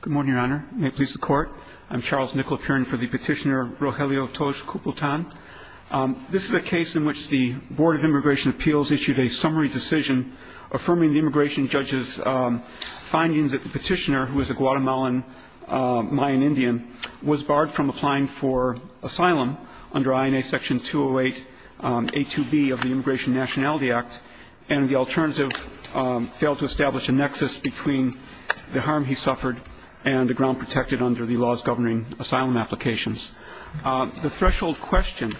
Good morning, Your Honor. May it please the Court. I'm Charles Nicolapurin for the petitioner Rogelio Toj-Culpatan. This is a case in which the Board of Immigration Appeals issued a summary decision affirming the immigration judge's findings that the petitioner, who is a Guatemalan Mayan Indian, was barred from applying for asylum under INA Section 208A2B of the Immigration Nationality Act and the alternative failed to establish a nexus between the harm he suffered and the ground protected under the laws governing asylum applications. The threshold question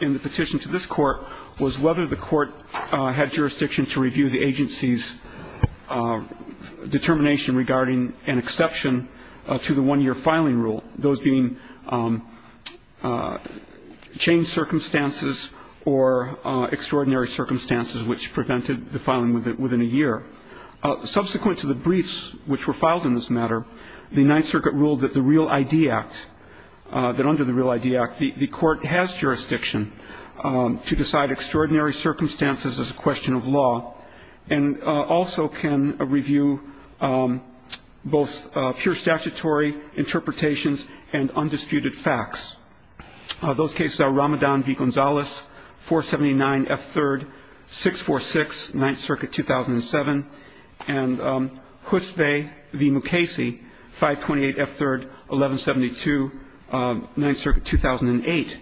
in the petition to this Court was whether the Court had jurisdiction to review the agency's determination regarding an exception to the one-year filing rule, those being changed circumstances or extraordinary circumstances which prevented the filing within a year. Subsequent to the briefs which were filed in this matter, the Ninth Circuit ruled that the Real ID Act, that under the Real ID Act the Court has jurisdiction to decide extraordinary circumstances as a question of law and also can review both pure statutory interpretations and undisputed facts. Those cases are Ramadan v. Gonzalez, 479 F. 3rd, 646 Ninth Circuit, 2007, and Husbe v. Mukasey, 528 F. 3rd, 1172 Ninth Circuit, 2008.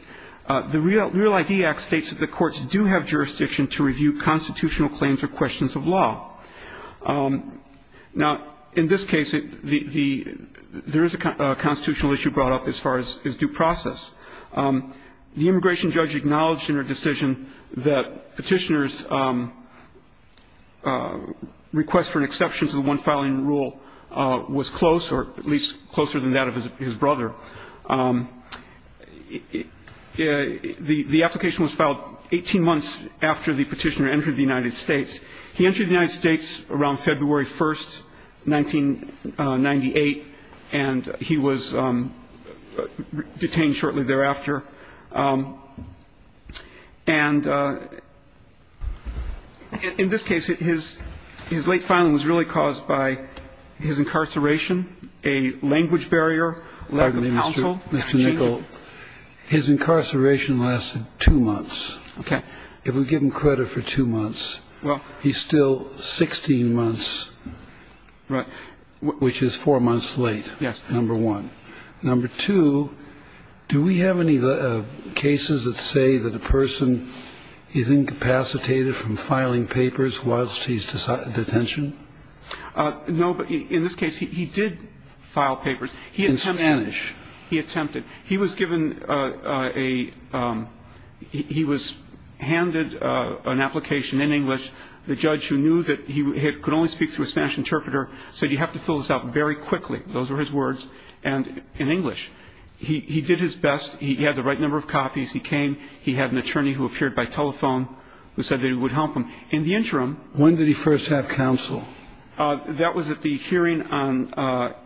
The Real ID Act states that the courts do have jurisdiction to review constitutional claims or questions of law. Now, in this case, there is a constitutional issue brought up as far as due process. The immigration judge acknowledged in her decision that Petitioner's request for an exception to the one-filing rule was close or at least closer than that of his brother. The application was filed 18 months after the Petitioner entered the United States. He entered the United States around February 1st, 1998, and he was detained shortly thereafter. And in this case, his late filing was really caused by his incarceration, a language barrier, lack of counsel. Kennedy. His incarceration lasted two months. Okay. If we give him credit for two months, he's still 16 months. Right. Which is four months late. Yes. Number one. Number two, do we have any cases that say that a person is incapacitated from filing papers whilst he's in detention? No, but in this case, he did file papers. In Spanish. He attempted. He attempted. He was given a he was handed an application in English. The judge who knew that he could only speak to a Spanish interpreter said you have to fill this out very quickly. Those were his words in English. He did his best. He had the right number of copies. He came. He had an attorney who appeared by telephone who said that he would help him. In the interim. When did he first have counsel? That was at the hearing on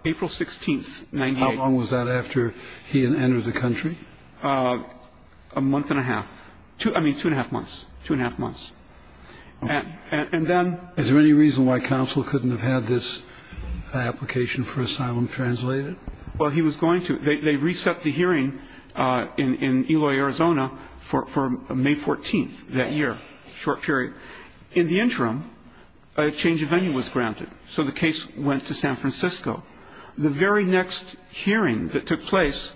April 16th, 1998. How long was that after he had entered the country? A month and a half. I mean, two and a half months. Two and a half months. And then. Is there any reason why counsel couldn't have had this application for asylum translated? Well, he was going to. They reset the hearing in Eloy, Arizona for May 14th that year, short period. In the interim, a change of venue was granted. So the case went to San Francisco. The very next hearing that took place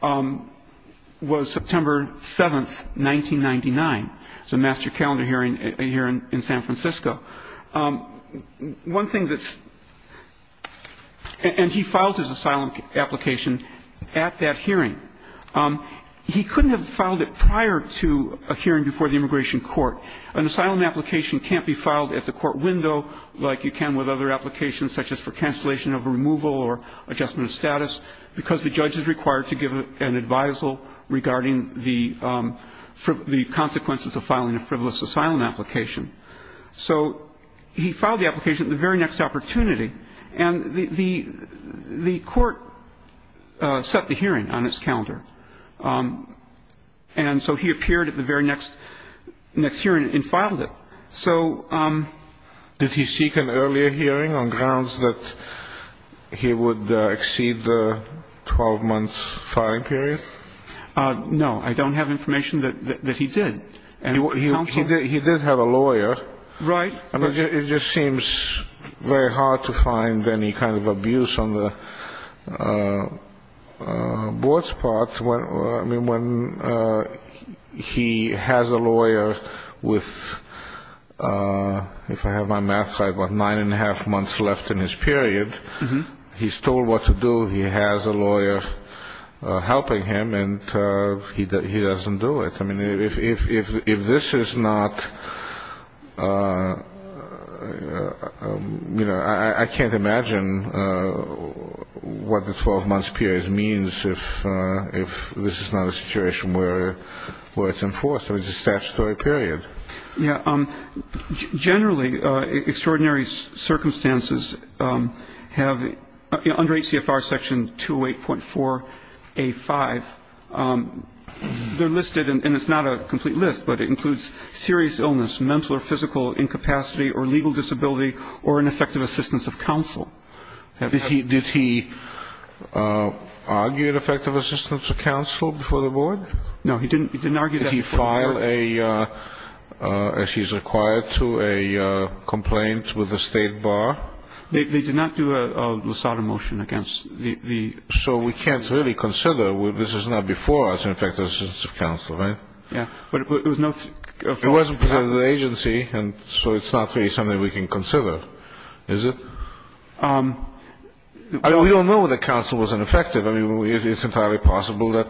was September 7th, 1999. It was a master calendar hearing here in San Francisco. One thing that's. And he filed his asylum application at that hearing. He couldn't have filed it prior to a hearing before the immigration court. An asylum application can't be filed at the court window like you can with other applications, such as for cancellation of removal or adjustment of status, because the judge is required to give an advisal regarding the consequences of filing a frivolous asylum application. So he filed the application at the very next opportunity. And the court set the hearing on its calendar. And so he appeared at the very next hearing and filed it. So. Did he seek an earlier hearing on grounds that he would exceed the 12-month filing period? No. I don't have information that he did. He did have a lawyer. Right. It just seems very hard to find any kind of abuse on the board's part. I mean, when he has a lawyer with, if I have my math right, about nine and a half months left in his period. He's told what to do. He has a lawyer helping him. And he doesn't do it. I mean, if this is not, you know, I can't imagine what the 12-month period means if this is not a situation where it's enforced, or it's a statutory period. Yeah. Generally, extraordinary circumstances have, you know, under ACFR Section 208.4A5, they're listed, and it's not a complete list, but it includes serious illness, mental or physical incapacity, or legal disability, or an effective assistance of counsel. Did he argue an effective assistance of counsel before the board? No, he didn't argue that before the board. Did he file a, as he's required to, a complaint with the state bar? They did not do a LASADA motion against the. So we can't really consider this is not before us an effective assistance of counsel, right? Yeah. It wasn't presented to the agency, and so it's not really something we can consider, is it? We don't know that counsel was ineffective. I mean, it's entirely possible that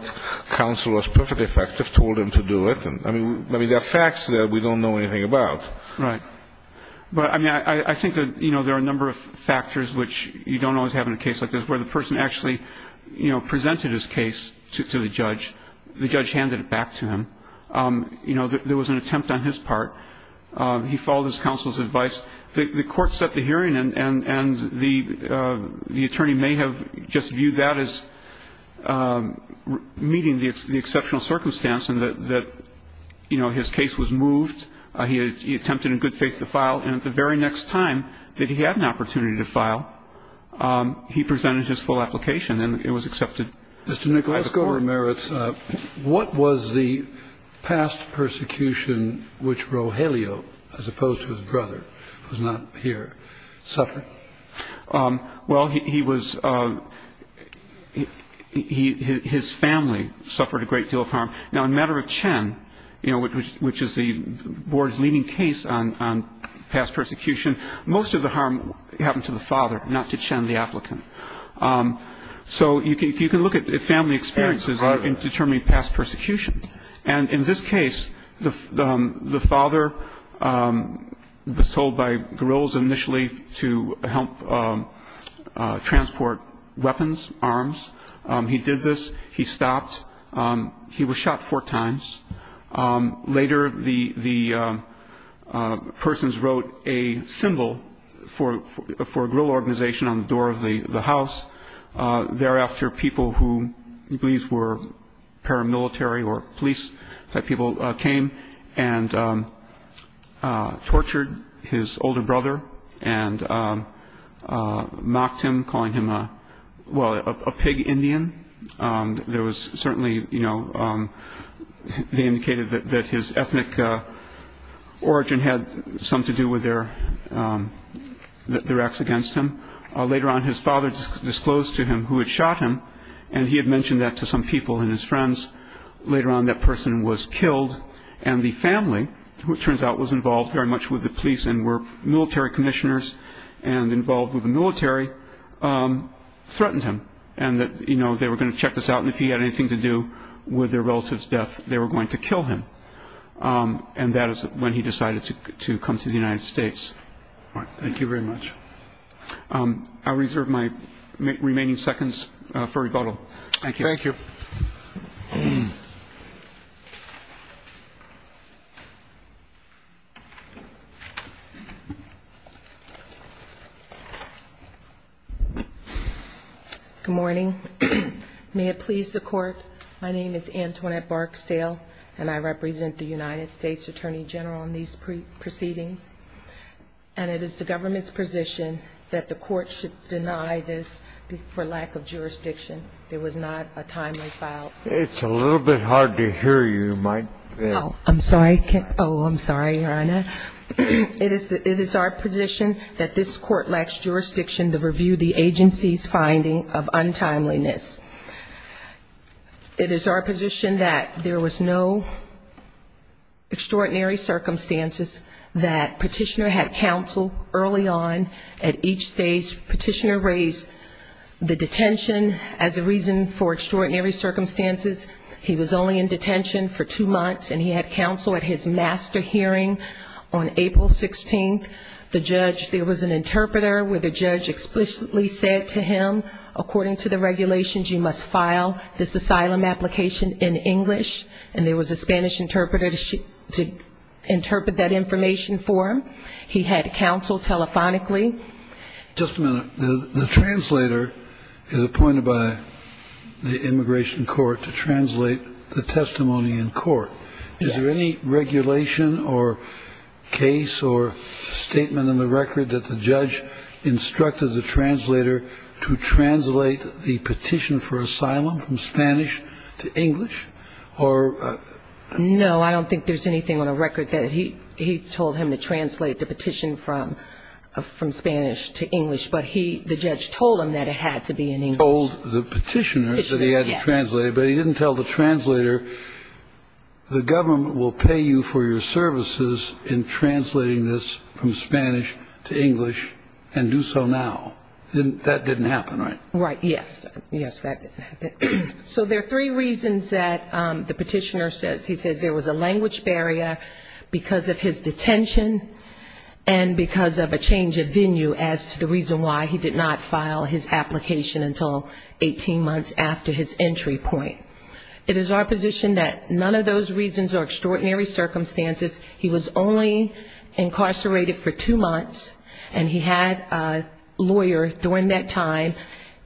counsel was perfectly effective, told him to do it. I mean, there are facts that we don't know anything about. But, I mean, I think that, you know, there are a number of factors which you don't always have in a case like this, where the person actually, you know, presented his case to the judge. The judge handed it back to him. You know, there was an attempt on his part. He followed his counsel's advice. The court set the hearing, and the attorney may have just viewed that as meeting the exceptional circumstance and that, you know, his case was moved. But, you know, I think that there are a number of factors, and I think the most important is that the attorney presented his case. He attempted in good faith to file, and at the very next time that he had an opportunity to file, he presented his full application and it was accepted by the court. Mr. Nicolette, let's go to merits. What was the past persecution which Rogelio, as opposed to his brother who's not here, suffered? Well, he was, his family suffered a great deal of harm. Now, in matter of Chen, you know, which is the board's leading case on past persecution, most of the harm happened to the father, not to Chen, the applicant. So you can look at family experiences in determining past persecution. And in this case, the father was told by guerrillas initially to help transport weapons, arms. He did this. He stopped. He was shot four times. Later, the persons wrote a symbol for a guerrilla organization on the door of the house. Thereafter, people who he believes were paramilitary or police type people came and tortured his older brother and mocked him, calling him, well, a pig Indian. There was certainly, you know, they indicated that his ethnic origin had some to do with their acts against him. Later on, his father disclosed to him who had shot him, and he had mentioned that to some people and his friends. Later on, that person was killed, and the family, who it turns out was involved very much with the police and were military commissioners and involved with the military, threatened him, and that, you know, they were going to check this out, and if he had anything to do with their relative's death, they were going to kill him. And that is when he decided to come to the United States. All right. Thank you very much. I'll reserve my remaining seconds for rebuttal. Thank you. Thank you. Good morning. May it please the Court, my name is Antoinette Barksdale, and I represent the United States Attorney General in these proceedings. And it is the government's position that the Court should deny this for lack of jurisdiction. It was not a timely file. It's a little bit hard to hear you, Mike. I'm sorry. Oh, I'm sorry, Your Honor. It is our position that this Court lacks jurisdiction to review the agency's finding of untimeliness. It is our position that there was no extraordinary circumstances, that Petitioner had counsel early on at each stage. Petitioner raised the detention as a reason for extraordinary circumstances. He was only in detention for two months, and he had counsel at his master hearing on April 16th. There was an interpreter where the judge explicitly said to him, according to the regulations you must file this asylum application in English, and there was a Spanish interpreter to interpret that information for him. He had counsel telephonically. Just a minute. The translator is appointed by the Immigration Court to translate the testimony in court. Is there any regulation or case or statement in the record that the judge instructed the translator to translate the petition for asylum from Spanish to English? No, I don't think there's anything on the record that he told him to translate the petition from Spanish to English, but the judge told him that it had to be in English. He told the petitioner that he had to translate it, but he didn't tell the translator, the government will pay you for your services in translating this from Spanish to English, and do so now. That didn't happen, right? Right, yes. Yes, that didn't happen. So there are three reasons that the Petitioner says. He says there was a language barrier because of his detention and because of a change of venue as to the reason why he did not file his application until 18 months after his entry point. It is our position that none of those reasons are extraordinary circumstances. He was only incarcerated for two months, and he had a lawyer during that time.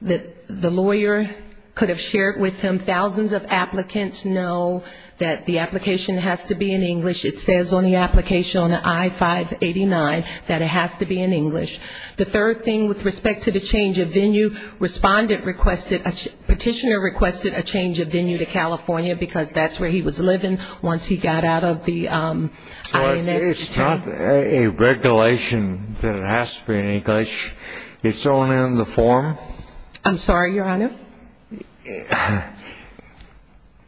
The lawyer could have shared with him, thousands of applicants know that the application has to be in English. It says on the application on I-589 that it has to be in English. The third thing with respect to the change of venue, Respondent requested, Petitioner requested a change of venue to California because that's where he was living once he got out of the INS detention. So it's not a regulation that it has to be in English, it's only in the form? I'm sorry, Your Honor?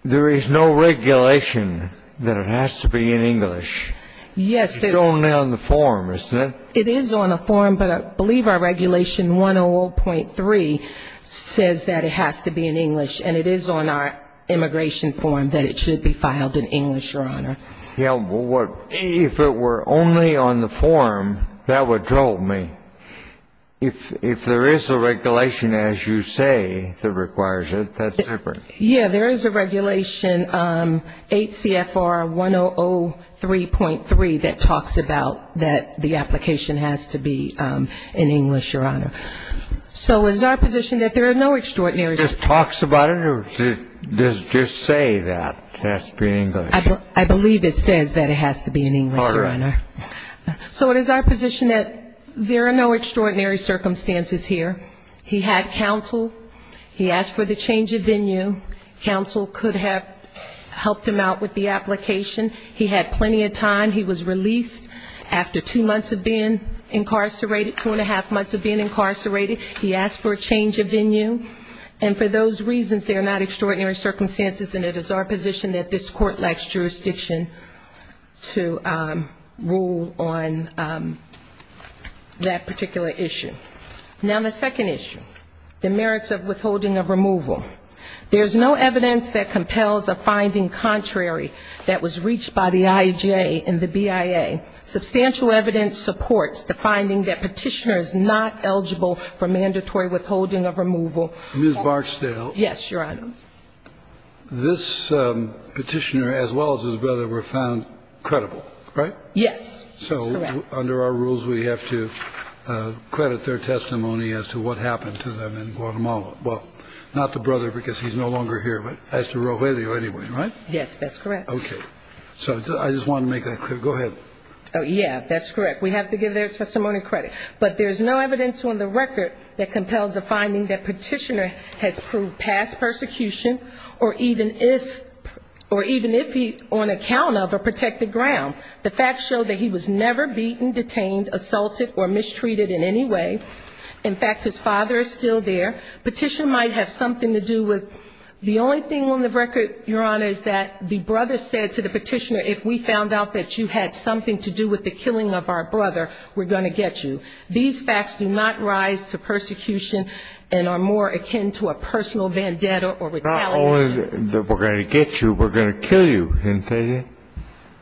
There is no regulation that it has to be in English. It's only on the form, isn't it? It is on the form, but I believe our regulation 100.3 says that it has to be in English, and it is on our immigration form that it should be filed in English, Your Honor. Yeah, but if it were only on the form, that would trouble me. If there is a regulation, as you say, that requires it, that's different. Yeah, there is a regulation, 8 CFR 1003.3, that talks about that the application has to be in English, Your Honor. So is our position that there are no extraordinary... It just talks about it, or does it just say that it has to be in English? I believe it says that it has to be in English, Your Honor. So it is our position that there are no extraordinary circumstances here. He had counsel, he asked for the change of venue, counsel could have helped him out with the application, he had plenty of time, he was released after two months of being incarcerated, two and a half months of being incarcerated, he asked for a change of venue, and for those reasons there are not extraordinary circumstances, and it is our position that this court lacks jurisdiction to rule on that particular issue. Now, the second issue, the merits of withholding of removal. There's no evidence that compels a finding contrary that was reached by the IJA and the BIA. Substantial evidence supports the finding that petitioner is not eligible for mandatory withholding of removal, Ms. Barksdale. Yes, Your Honor. This petitioner as well as his brother were found credible, right? Yes, that's correct. So under our rules we have to credit their testimony as to what happened to them in Guatemala. Well, not the brother because he's no longer here, but as to Rogelio anyway, right? Yes, that's correct. Okay. So I just wanted to make that clear. Go ahead. Yeah, that's correct. We have to give their testimony credit. But there's no evidence on the record that compels a finding that petitioner has proved past persecution, or even if he, on account of a protected ground. The facts show that he was never beaten, detained, assaulted, or mistreated in any way. In fact, his father is still there. Petitioner might have something to do with the only thing on the record, Your Honor, is that the brother said to the petitioner, if we found out that you had something to do with the killing of our brother, we're going to get you. These facts do not rise to persecution and are more akin to a personal vendetta or retaliation. Not only that we're going to get you, we're going to kill you, isn't that it?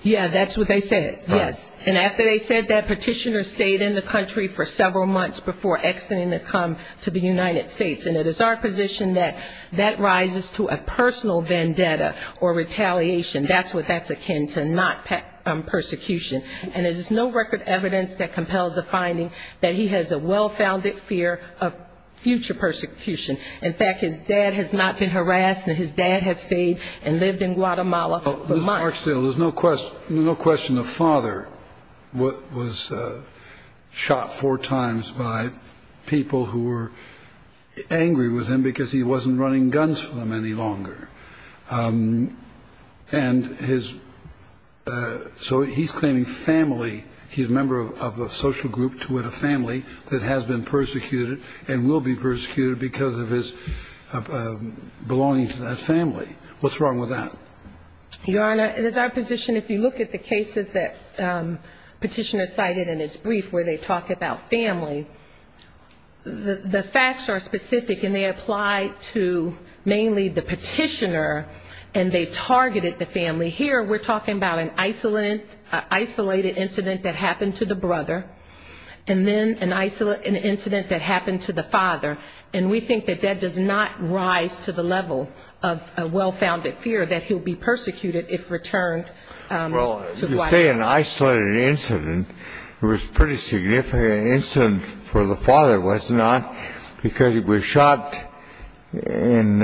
Yeah, that's what they said, yes. And after they said that, petitioner stayed in the country for several months before exiting to come to the United States. And it is our position that that rises to a personal vendetta or retaliation. That's what that's akin to, not persecution. And there's no record evidence that compels a finding that he has a well-founded fear of future persecution. In fact, his dad has not been harassed and his dad has stayed and lived in Guatemala for months. Ms. Marksdale, there's no question the father was shot four times by people who were angry with him because he wasn't running guns for them any longer. And his, so he's claiming family, he's a member of a social group to a family that has been persecuted and will be persecuted because of his belonging to that family. What's wrong with that? Your Honor, it is our position if you look at the cases that petitioner cited in his brief where they talk about family, the facts are specific and they apply to mainly the petitioner and they targeted the family. Here we're talking about an isolated incident that happened to the brother, and then an incident that happened to the father. And we think that that does not rise to the level of a well-founded fear that he'll be persecuted if returned to Guatemala. You say an isolated incident. It was pretty significant. An incident for the father was not because he was shot in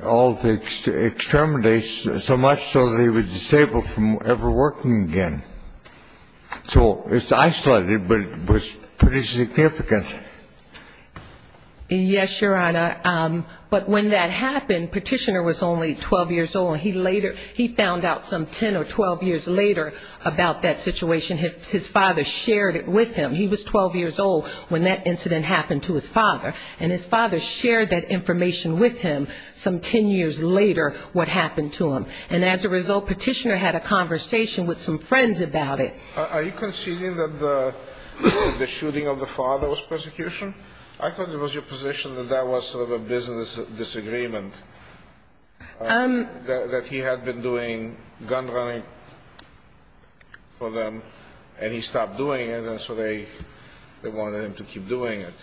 all the extermination so much so that he was disabled from ever working again. So it's isolated, but it was pretty significant. Yes, Your Honor. But when that happened, petitioner was only 12 years old. He later, he found out some 10 or 12 years later about that situation. His father shared it with him. He was 12 years old when that incident happened to his father. And his father shared that information with him some 10 years later what happened to him. And as a result, petitioner had a conversation with some friends about it. Are you conceding that the shooting of the father was persecution? I thought it was your position that that was sort of a business disagreement, that he had been doing gun running for them, and he stopped doing it, and so they wanted him to keep doing it.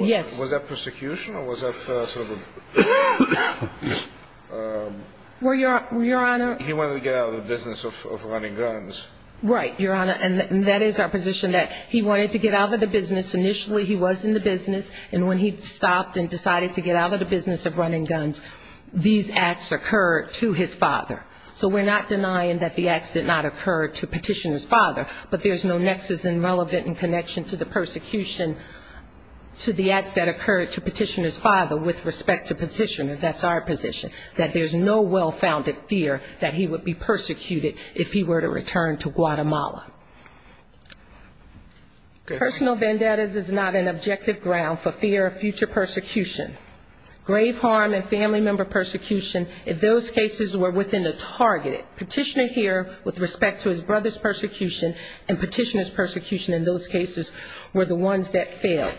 Yes. Was that persecution, or was that sort of a... Well, Your Honor... He wanted to get out of the business of running guns. Right, Your Honor, and that is our position, that he wanted to get out of the business. Initially he was in the business, and when he stopped and decided to get out of the business of running guns, these acts occurred to his father. So we're not denying that the acts did not occur to petitioner's father, but there's no nexus in relevant in connection to the persecution to the acts that occurred to petitioner's father with respect to petitioner. That's our position, that there's no well-founded fear that he would be persecuted if he were to return to Guatemala. Personal vendettas is not an objective ground for fear of future persecution. Grave harm and family member persecution, if those cases were within the target, petitioner here with respect to his brother's persecution and petitioner's persecution in those cases were the ones that failed.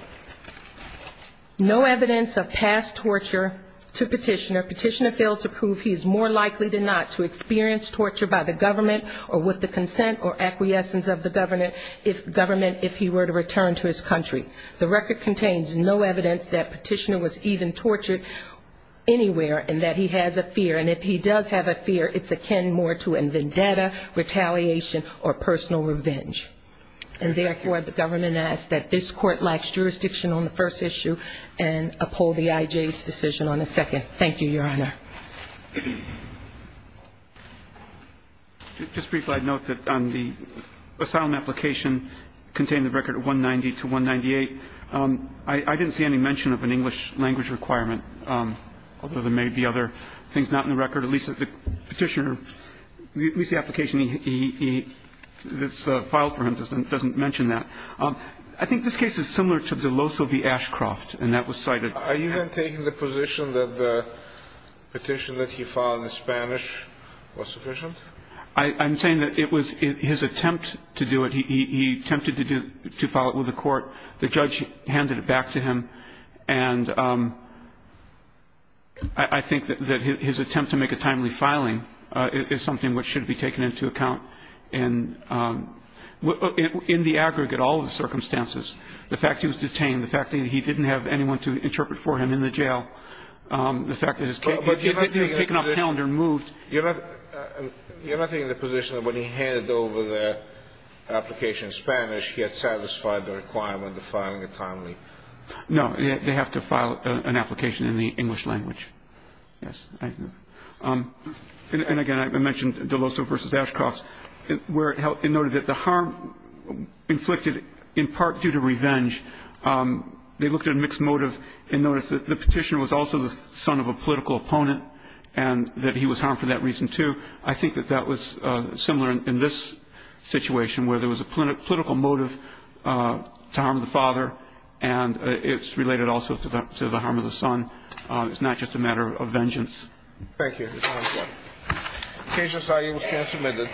No evidence of past torture to petitioner, petitioner failed to prove he is more likely than not to experience torture by the government or with the consent or acquiescence of the government if he were to return to his country. The record contains no evidence that petitioner was even tortured anywhere and that he has a fear, and if he does have a fear, it's akin more to a vendetta, retaliation or personal revenge. And therefore, the government asks that this court lacks jurisdiction on the first issue and uphold the IJ's decision on the second. Thank you, Your Honor. Just briefly, I'd note that the asylum application contained the record 190 to 198. I didn't see any mention of an English language requirement, although there may be other things not in the record, at least the petitioner, at least the application that's filed for him doesn't mention that. I think this case is similar to De Loso v. Ashcroft, and that was cited. Are you then taking the position that the petition that he filed in Spanish was sufficient? I'm saying that it was his attempt to do it. He attempted to file it with the court. The judge handed it back to him, and I think that his attempt to make a timely filing is something which should be taken into account in the aggregate, all of the circumstances, the fact that he was detained, the fact that he didn't have anyone to interpret for him in the jail, the fact that his case was taken off the calendar and moved. You're not taking the position that when he handed over the application in Spanish, he had satisfied the requirement of filing it timely? No. They have to file an application in the English language. Yes. And, again, I mentioned De Loso v. Ashcroft, where it noted that the harm inflicted in part due to revenge, they looked at a mixed motive and noticed that the petitioner was also the son of a political opponent, and that he was harmed for that reason, too. I think that that was similar in this situation, where there was a political motive to harm the father, and it's related also to the harm of the son. It's not just a matter of vengeance. Thank you, Your Honor. The case was submitted.